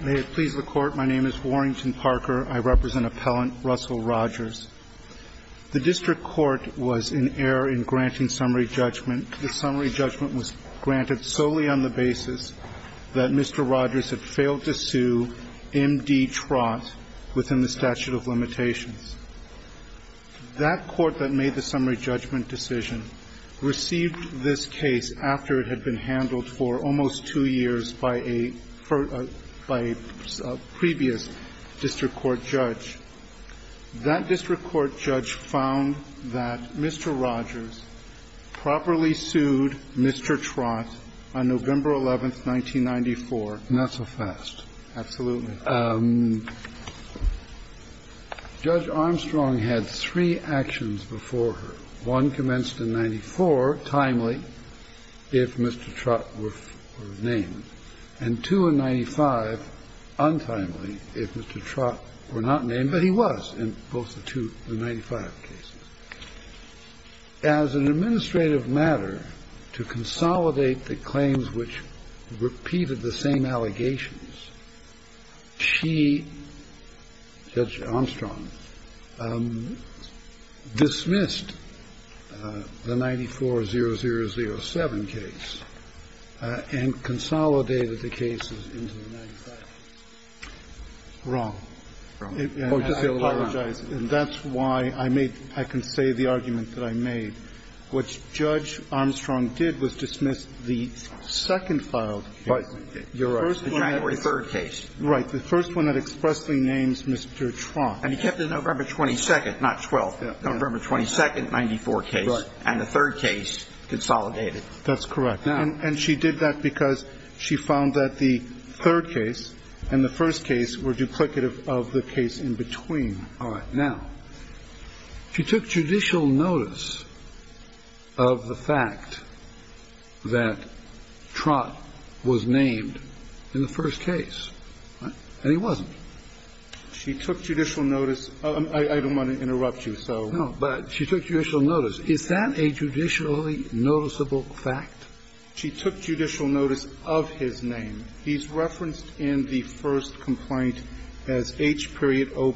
May it please the Court, my name is Warrington Parker. I represent Appellant Russell Rogers. The District Court was in error in granting summary judgment. The summary judgment was granted solely on the basis that Mr. Rogers had failed to sue M.D. Trott within the statute of limitations. That Court that made the summary judgment decision received this case after it had been handled for almost two years by a previous District Court judge. That District Court judge found that Mr. Rogers properly sued Mr. Trott on November 11, 1994. Not so fast. Absolutely. Judge Armstrong had three actions before her. One commenced in 94, timely, if Mr. Trott were named, and two in 95, untimely, if Mr. Trott were not named, but he was in both the two, the 95 cases. As an administrative matter, to consolidate the claims which repeated the same allegations, she, Judge Armstrong, dismissed the 94-0007 case and consolidated the cases into the 95 cases. Wrong. I apologize, and that's why I made, I can say the argument that I made. What Judge Armstrong did was dismiss the second filed case. You're right. The January 3rd case. Right. The first one that expressly names Mr. Trott. And he kept the November 22nd, not 12th, November 22nd, 94 case. Right. And the third case consolidated. That's correct. And she did that because she found that the third case and the first case were duplicative of the case in between. All right. Now, she took judicial notice of the fact that Trott was named in the first case, and he wasn't. She took judicial notice of, I don't want to interrupt you, so. No, but she took judicial notice. Is that a judicially noticeable fact? She took judicial notice of his name. He's referenced in the first complaint as H.O.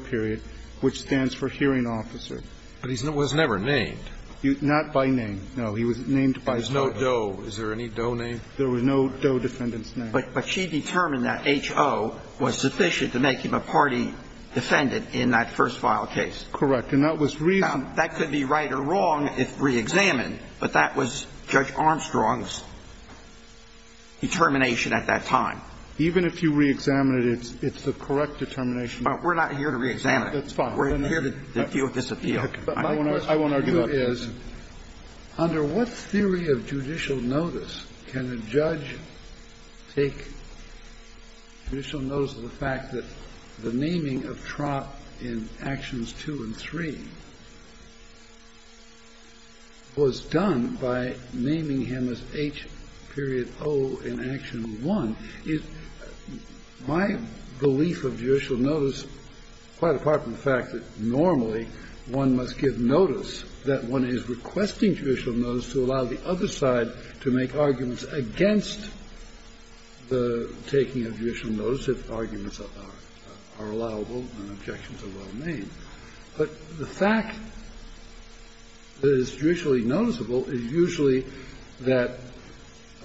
which stands for hearing officer. But he was never named. Not by name. No, he was named by his name. There was no Doe. Is there any Doe named? There were no Doe defendants named. But she determined that H.O. was sufficient to make him a party defendant in that first filed case. Correct. And that was reason. Now, that could be right or wrong if reexamined, but that was Judge Armstrong's determination at that time. Even if you reexamine it, it's the correct determination. But we're not here to reexamine it. That's fine. We're here to deal with this appeal. But my question to you is, under what theory of judicial notice can a judge take judicial notice of the fact that the naming of Trott in Actions 2 and 3 was done by naming him as H.O. in Action 1? My belief of judicial notice, quite apart from the fact that normally one must give notice, that one is requesting judicial notice to allow the other side to make arguments against the taking of judicial notice if arguments are allowable and objections are well made. But the fact that it's judicially noticeable is usually that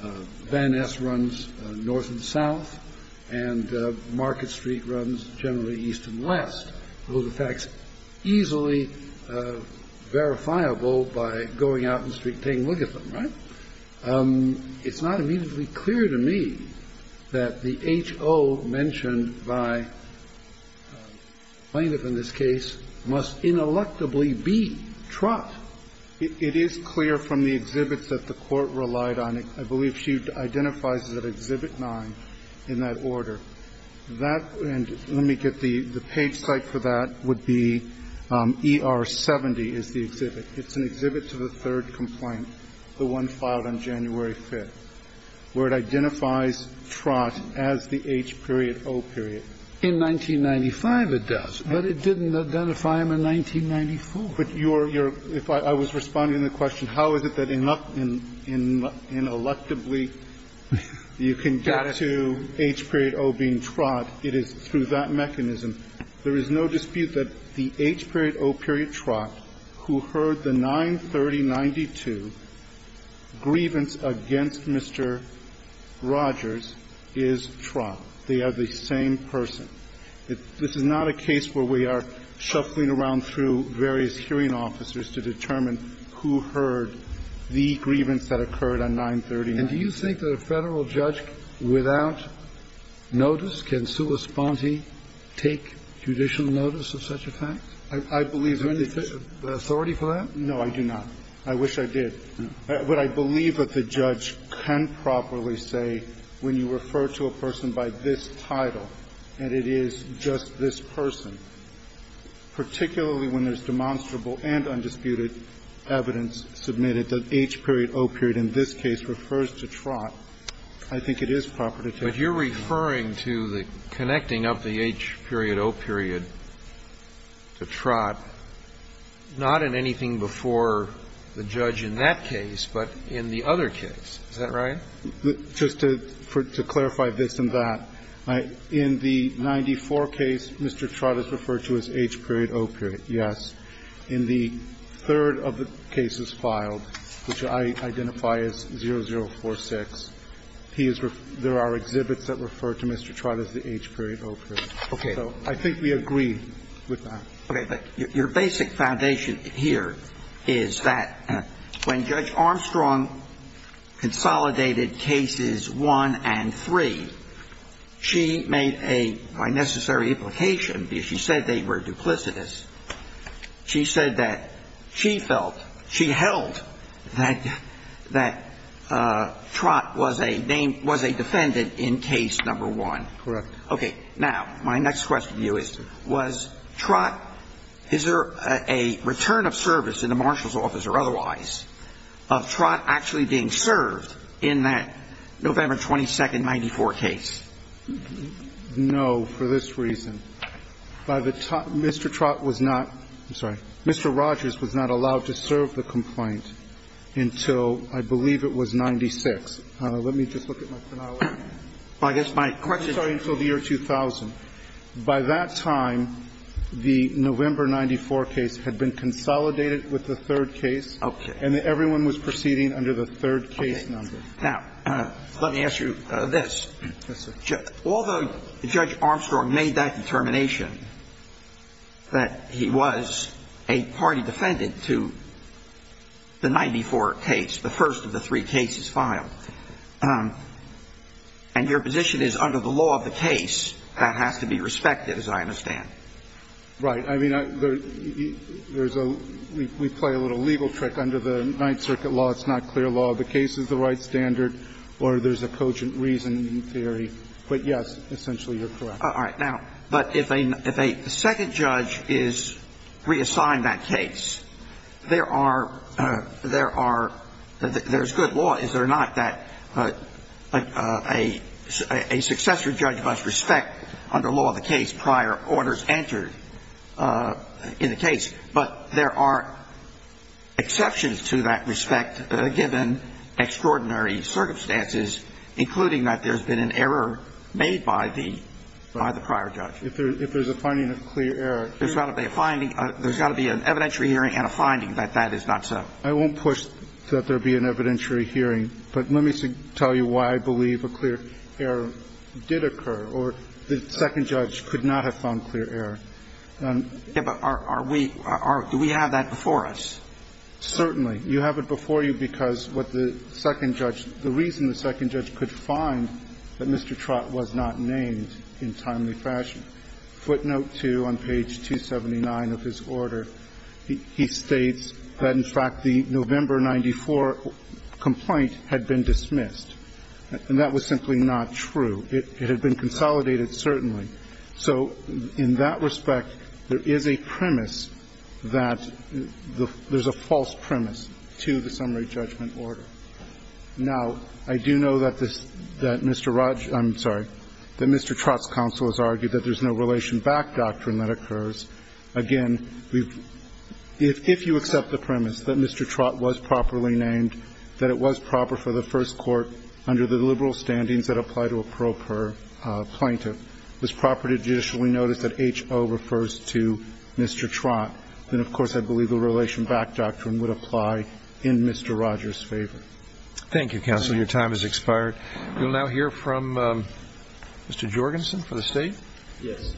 Van Ness runs north and south and Market Street runs generally east and west. Those are facts easily verifiable by going out in the street and taking a look at them. Right? It's not immediately clear to me that the H.O. mentioned by plaintiff in this case must ineluctably be Trott. It is clear from the exhibits that the Court relied on. I believe she identifies it as Exhibit 9 in that order. That – and let me get the page site for that would be ER 70 is the exhibit. It's an exhibit to the third complaint, the one filed on January 5th, where it identifies Trott as the H.O. period. In 1995 it does, but it didn't identify him in 1994. But your – if I was responding to the question, how is it that ineluctably you can get to H.O. being Trott, it is through that mechanism. There is no dispute that the H.O. period Trott who heard the 93092 grievance against Mr. Rogers is Trott. They are the same person. This is not a case where we are shuffling around through various hearing officers to determine who heard the grievance that occurred on 93092. And do you think that a Federal judge without notice, can sua sponte take judicial notice of such a fact? I believe that it's – Is there any authority for that? No, I do not. I wish I did. But I believe that the judge can properly say when you refer to a person by this title, and it is just this person, particularly when there's demonstrable and undisputed evidence submitted that H.O. period in this case refers to Trott, I think it is proper to take the case. But you're referring to the connecting up the H.O. period to Trott, not in anything before the judge in that case, but in the other case. Is that right? Just to clarify this and that, in the 94 case, Mr. Trott is referred to as H.O. period. Yes. In the third of the cases filed, which I identify as 0046, he is – there are exhibits that refer to Mr. Trott as the H.O. period. Okay. So I think we agree with that. Okay. But your basic foundation here is that when Judge Armstrong consolidated cases one and three, she made a – by necessary implication, because she said they were duplicitous, she said that she felt – she held that Trott was a name – was a defendant in case number one. Correct. Okay. Now, my next question to you is, was Trott – is there a return of service in the marshal's office or otherwise of Trott actually being served in that November 22nd, 94 case? No, for this reason. By the time – Mr. Trott was not – I'm sorry. Mr. Rogers was not allowed to serve the complaint until I believe it was 96. Let me just look at my finale. Well, I guess my question is – I'm sorry, until the year 2000. By that time, the November 94 case had been consolidated with the third case. Okay. And everyone was proceeding under the third case number. Now, let me ask you this. Yes, sir. Although Judge Armstrong made that determination that he was a party defendant to the 94 case, the first of the three cases filed, and your position is under the law of the case, that has to be respected, as I understand. Right. I mean, there's a – we play a little legal trick. Under the Ninth Circuit law, it's not clear law of the case is the right standard or there's a cogent reason in theory. But, yes, essentially, you're correct. All right. Now, but if a second judge is reassigned that case, there are – there's good that a successor judge must respect, under law of the case, prior orders entered in the case. But there are exceptions to that respect, given extraordinary circumstances, including that there's been an error made by the prior judge. If there's a finding of clear error. There's got to be a finding – there's got to be an evidentiary hearing and a finding that that is not so. I won't push that there be an evidentiary hearing. But let me tell you why I believe a clear error did occur, or the second judge could not have found clear error. Yeah, but are we – do we have that before us? Certainly. You have it before you because what the second judge – the reason the second judge could find that Mr. Trott was not named in timely fashion – footnote 2 on page 279 of his order, he states that, in fact, the November 94 complaint had been dismissed. And that was simply not true. It had been consolidated, certainly. So in that respect, there is a premise that the – there's a false premise to the summary judgment order. Now, I do know that this – that Mr. Raj – I'm sorry, that Mr. Trott's counsel has argued that there's no relation-back doctrine that occurs. Again, we've – if you accept the premise that Mr. Trott was properly named, that it was proper for the first court, under the liberal standings that apply to a pro per plaintiff, it was proper to judicially notice that H.O. refers to Mr. Trott, then, of course, I believe the relation-back doctrine would apply in Mr. Rogers' favor. Thank you, counsel. Your time has expired. We'll now hear from Mr. Jorgensen for the State. Yes.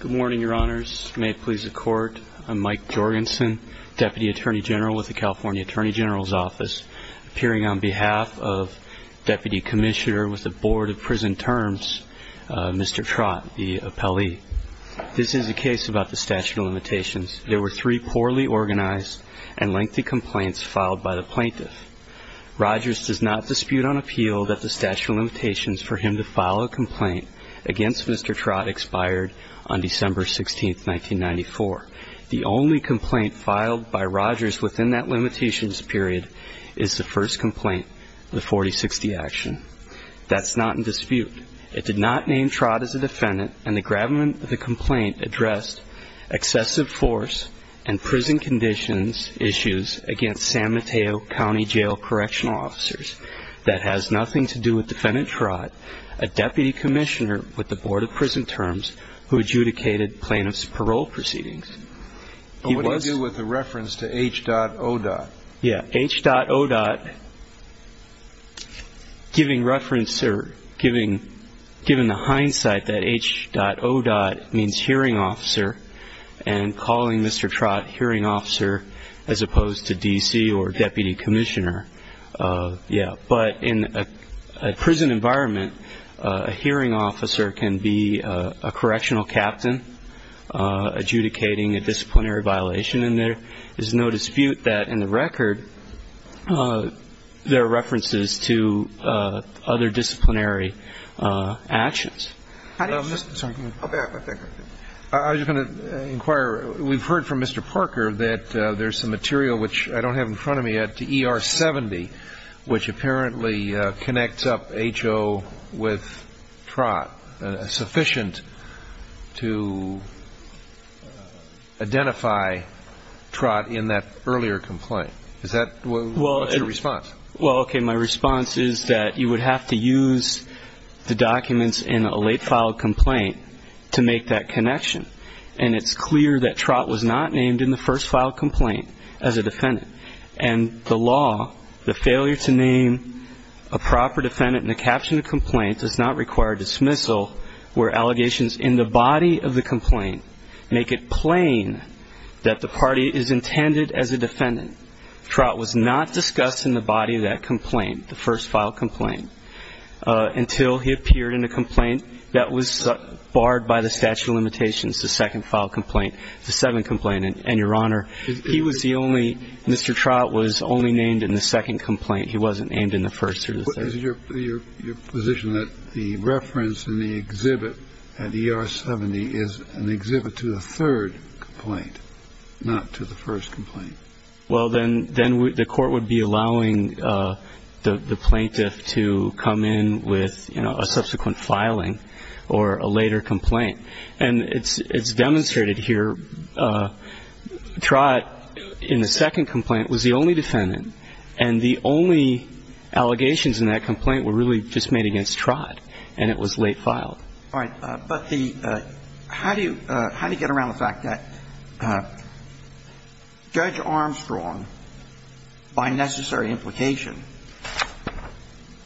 Good morning, Your Honors. May it please the Court, I'm Mike Jorgensen, Deputy Attorney General with the California Attorney General's Office, appearing on behalf of Deputy Commissioner with the Board of Prison Terms, Mr. Trott, the appellee. This is a case about the statute of limitations. There were three poorly organized and lengthy complaints filed by the plaintiff. Rogers does not dispute on appeal that the statute of limitations for him to file a complaint against Mr. Trott expired on December 16, 1994. The only complaint filed by Rogers within that limitations period is the first complaint, the 4060 action. That's not in dispute. It did not name Trott as a defendant, and the gravamen of the complaint addressed excessive force and prison conditions issues against San Mateo County Jail correctional officers. That has nothing to do with Defendant Trott, a Deputy Commissioner with the Board of Prison Terms who adjudicated plaintiff's parole proceedings. But what do you do with the reference to H dot O dot? Yeah, H dot O dot. Given the hindsight that H dot O dot means hearing officer and calling Mr. Trott hearing officer as opposed to DC or Deputy Commissioner, yeah, but in a prison environment, a hearing officer can be a correctional captain adjudicating a disciplinary violation. And there is no dispute that in the record, there are references to other disciplinary actions. I was just going to inquire. We've heard from Mr. Parker that there's some material, which I don't have in front of me yet, to ER 70, which apparently connects up H dot O dot with Trott, sufficient to identify Trott in that earlier complaint. Is that what's your response? Well, okay, my response is that you would have to use the documents in a late filed complaint to make that connection. And it's clear that Trott was not named in the first filed complaint as a defendant. And the law, the failure to name a proper defendant in a captioned complaint does not require dismissal where allegations in the body of the complaint make it plain that the party is intended as a defendant. Trott was not discussed in the body of that complaint, the first filed complaint, until he appeared in a complaint that was barred by the statute of limitations, the second filed complaint, the seventh complaint. And your honor, he was the only, Mr. Trott was only named in the second complaint. He wasn't named in the first or the second. Is your position that the reference in the exhibit at ER 70 is an exhibit to the third complaint, not to the first complaint? Well, then the court would be allowing the plaintiff to come in with a subsequent filing or a later complaint. And it's demonstrated here, Trott in the second complaint was the only defendant. And the only allegations in that complaint were really just made against Trott, and it was late filed. All right. But the – how do you get around the fact that Judge Armstrong, by necessary implication,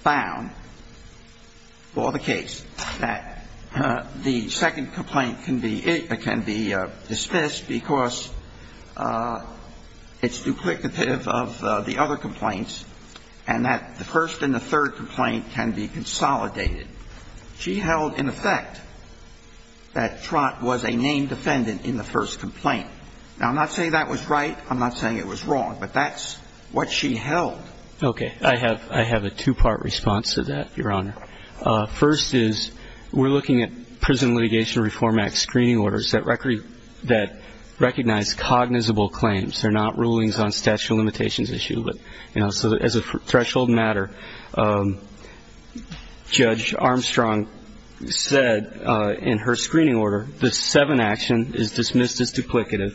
found for the case that the second complaint can be dismissed because it's duplicative of the other complaints, and that the first and the third complaint can be consolidated? She held, in effect, that Trott was a named defendant in the first complaint. Now, I'm not saying that was right. I'm not saying it was wrong. But that's what she held. Okay. I have a two-part response to that, your honor. First is, we're looking at Prison Litigation Reform Act screening orders that record – that recognize cognizable claims. They're not rulings on statute of limitations issue. But, you know, so as a threshold matter, Judge Armstrong said in her screening order, the seventh action is dismissed as duplicative.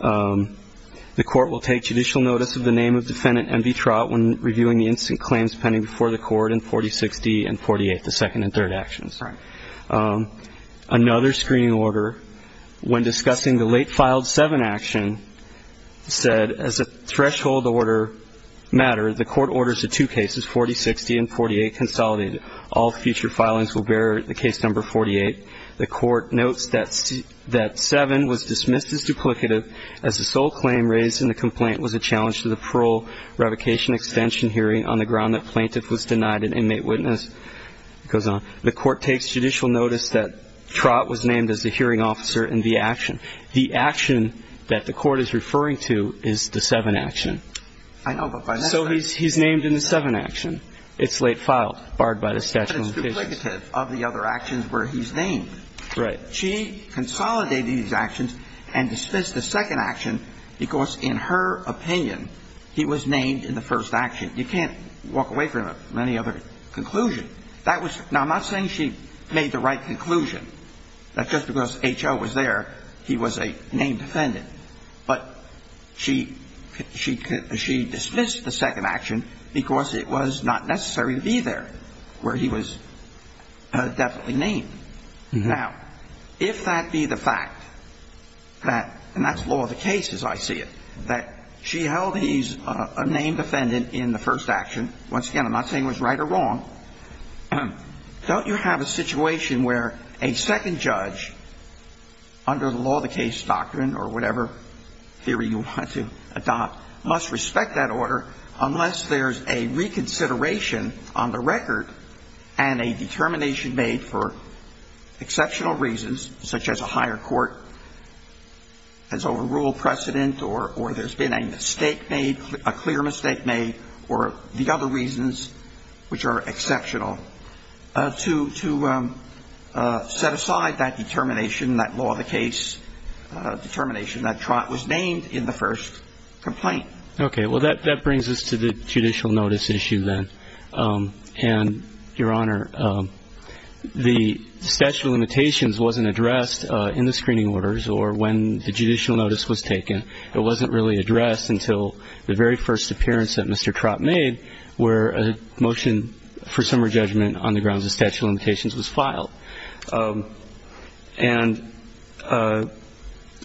The court will take judicial notice of the name of defendant MV Trott when reviewing the instant claims pending before the court in 4060 and 48, the second and third actions. Right. Another screening order, when discussing the late filed seven action, said as a threshold order matter, the court orders the two cases, 4060 and 48, consolidated. All future filings will bear the case number 48. The court notes that seven was dismissed as duplicative as the sole claim raised in the complaint was a challenge to the parole revocation extension hearing on the ground that plaintiff was denied an inmate witness. It goes on. The court takes judicial notice that Trott was named as the hearing officer in the action. The action that the court is referring to is the seven action. I know, but by necessity. So he's named in the seven action. It's late filed, barred by the statute of limitations. But it's duplicative of the other actions where he's named. Right. She consolidated these actions and dismissed the second action because, in her opinion, he was named in the first action. You can't walk away from it from any other conclusion. Now, I'm not saying she made the right conclusion that just because H.O. was there, he was a named defendant. But she dismissed the second action because it was not necessary to be there where he was definitely named. Now, if that be the fact that, and that's law of the case as I see it, that she held he's a named defendant in the first action, once again, I'm not saying it was right or wrong, don't you have a situation where a second judge under the law of the case doctrine or whatever theory you want to adopt must respect that order unless there's a reconsideration on the record and a determination made for exceptional reasons, such as a higher court has overruled precedent or there's been a mistake made, a clear mistake made, or the other reasons which are exceptional, to set aside that determination, that law of the case determination that was named in the first complaint? Okay. Well, that brings us to the judicial notice issue then. And, Your Honor, the statute of limitations wasn't addressed in the screening orders or when the judicial notice was taken. It wasn't really addressed until the very first appearance that Mr. Trott made where a motion for summer judgment on the grounds of statute of limitations was filed. And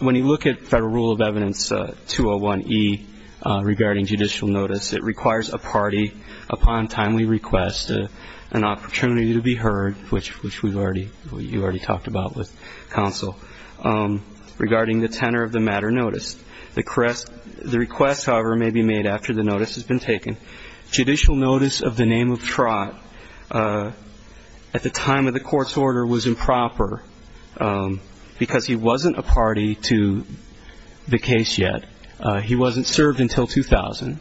when you look at Federal Rule of Evidence 201E regarding judicial notice, it requires a party, upon timely request, an opportunity to be heard, which you already talked about with counsel, regarding the tenor of the matter noticed. The request, however, may be made after the notice has been taken. Judicial notice of the name of Trott at the time of the court's order was improper because he wasn't a party to the case yet. He wasn't served until 2000.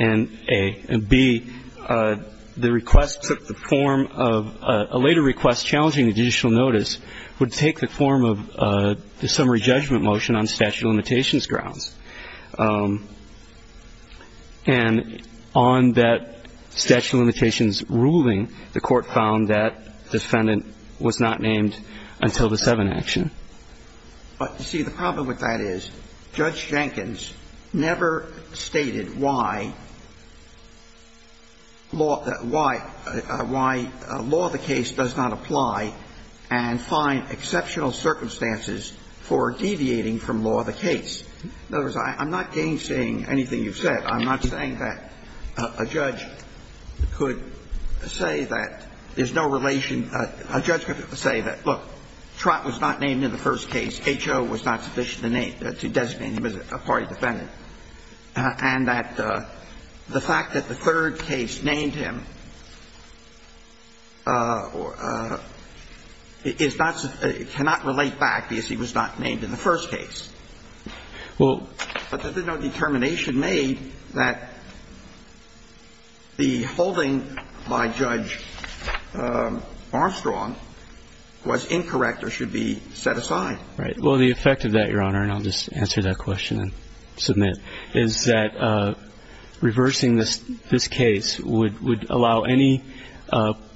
And, A. And, B, the request took the form of a later request challenging the judicial notice would take the form of the summary judgment motion on statute of limitations grounds. And on that statute of limitations ruling, the Court found that defendant was not named until the 7 action. But, you see, the problem with that is Judge Jenkins never stated why law, why, why law of the case does not apply and find exceptional circumstances for deviating from law of the case. In other words, I'm not gainsaying anything you've said. I'm not saying that a judge could say that there's no relation. A judge could say that, look, Trott was not named in the first case. H.O. was not sufficient to name, to designate him as a party defendant. And that the fact that the third case named him is not, cannot relate back because he was not named in the first case. Well, but there's no determination made that the holding by Judge Armstrong was incorrect or should be set aside. Right. Well, the effect of that, Your Honor, and I'll just answer that question and submit, is that reversing this case would allow any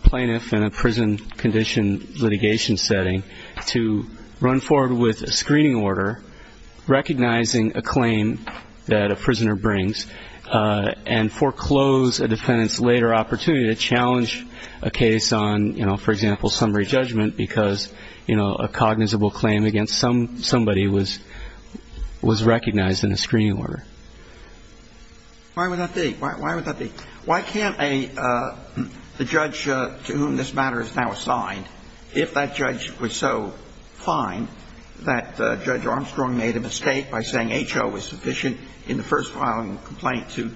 plaintiff in a prison condition litigation setting to run forward with a screening order recognizing a claim that a prisoner brings and foreclose a defendant's later opportunity to challenge a case on, you know, for example, summary judgment because, you know, a cognizable claim against somebody was recognized in a screening order. Why would that be? Because if that judge was so fine that Judge Armstrong made a mistake by saying H.O. was sufficient in the first filing complaint to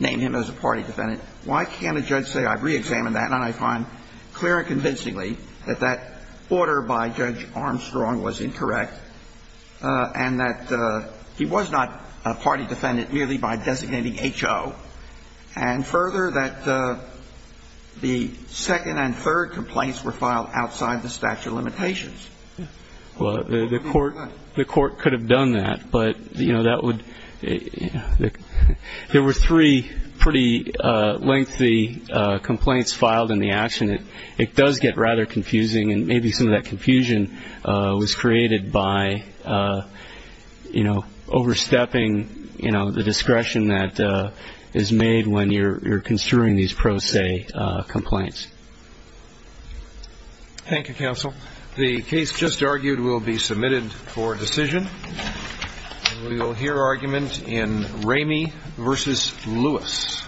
name him as a party defendant, why can't a judge say I've reexamined that, and I find clear and convincingly that that order by Judge Armstrong was incorrect and that he was not a party defendant? Well, the court could have done that, but, you know, that would, you know, there were three pretty lengthy complaints filed in the action. It does get rather confusing, and maybe some of that confusion was created by, you know, overstepping, you know, the discretion that is made when you're construing these pro se complaints. Thank you, counsel. The case just argued will be submitted for decision. We will hear argument in Ramey v. Lewis.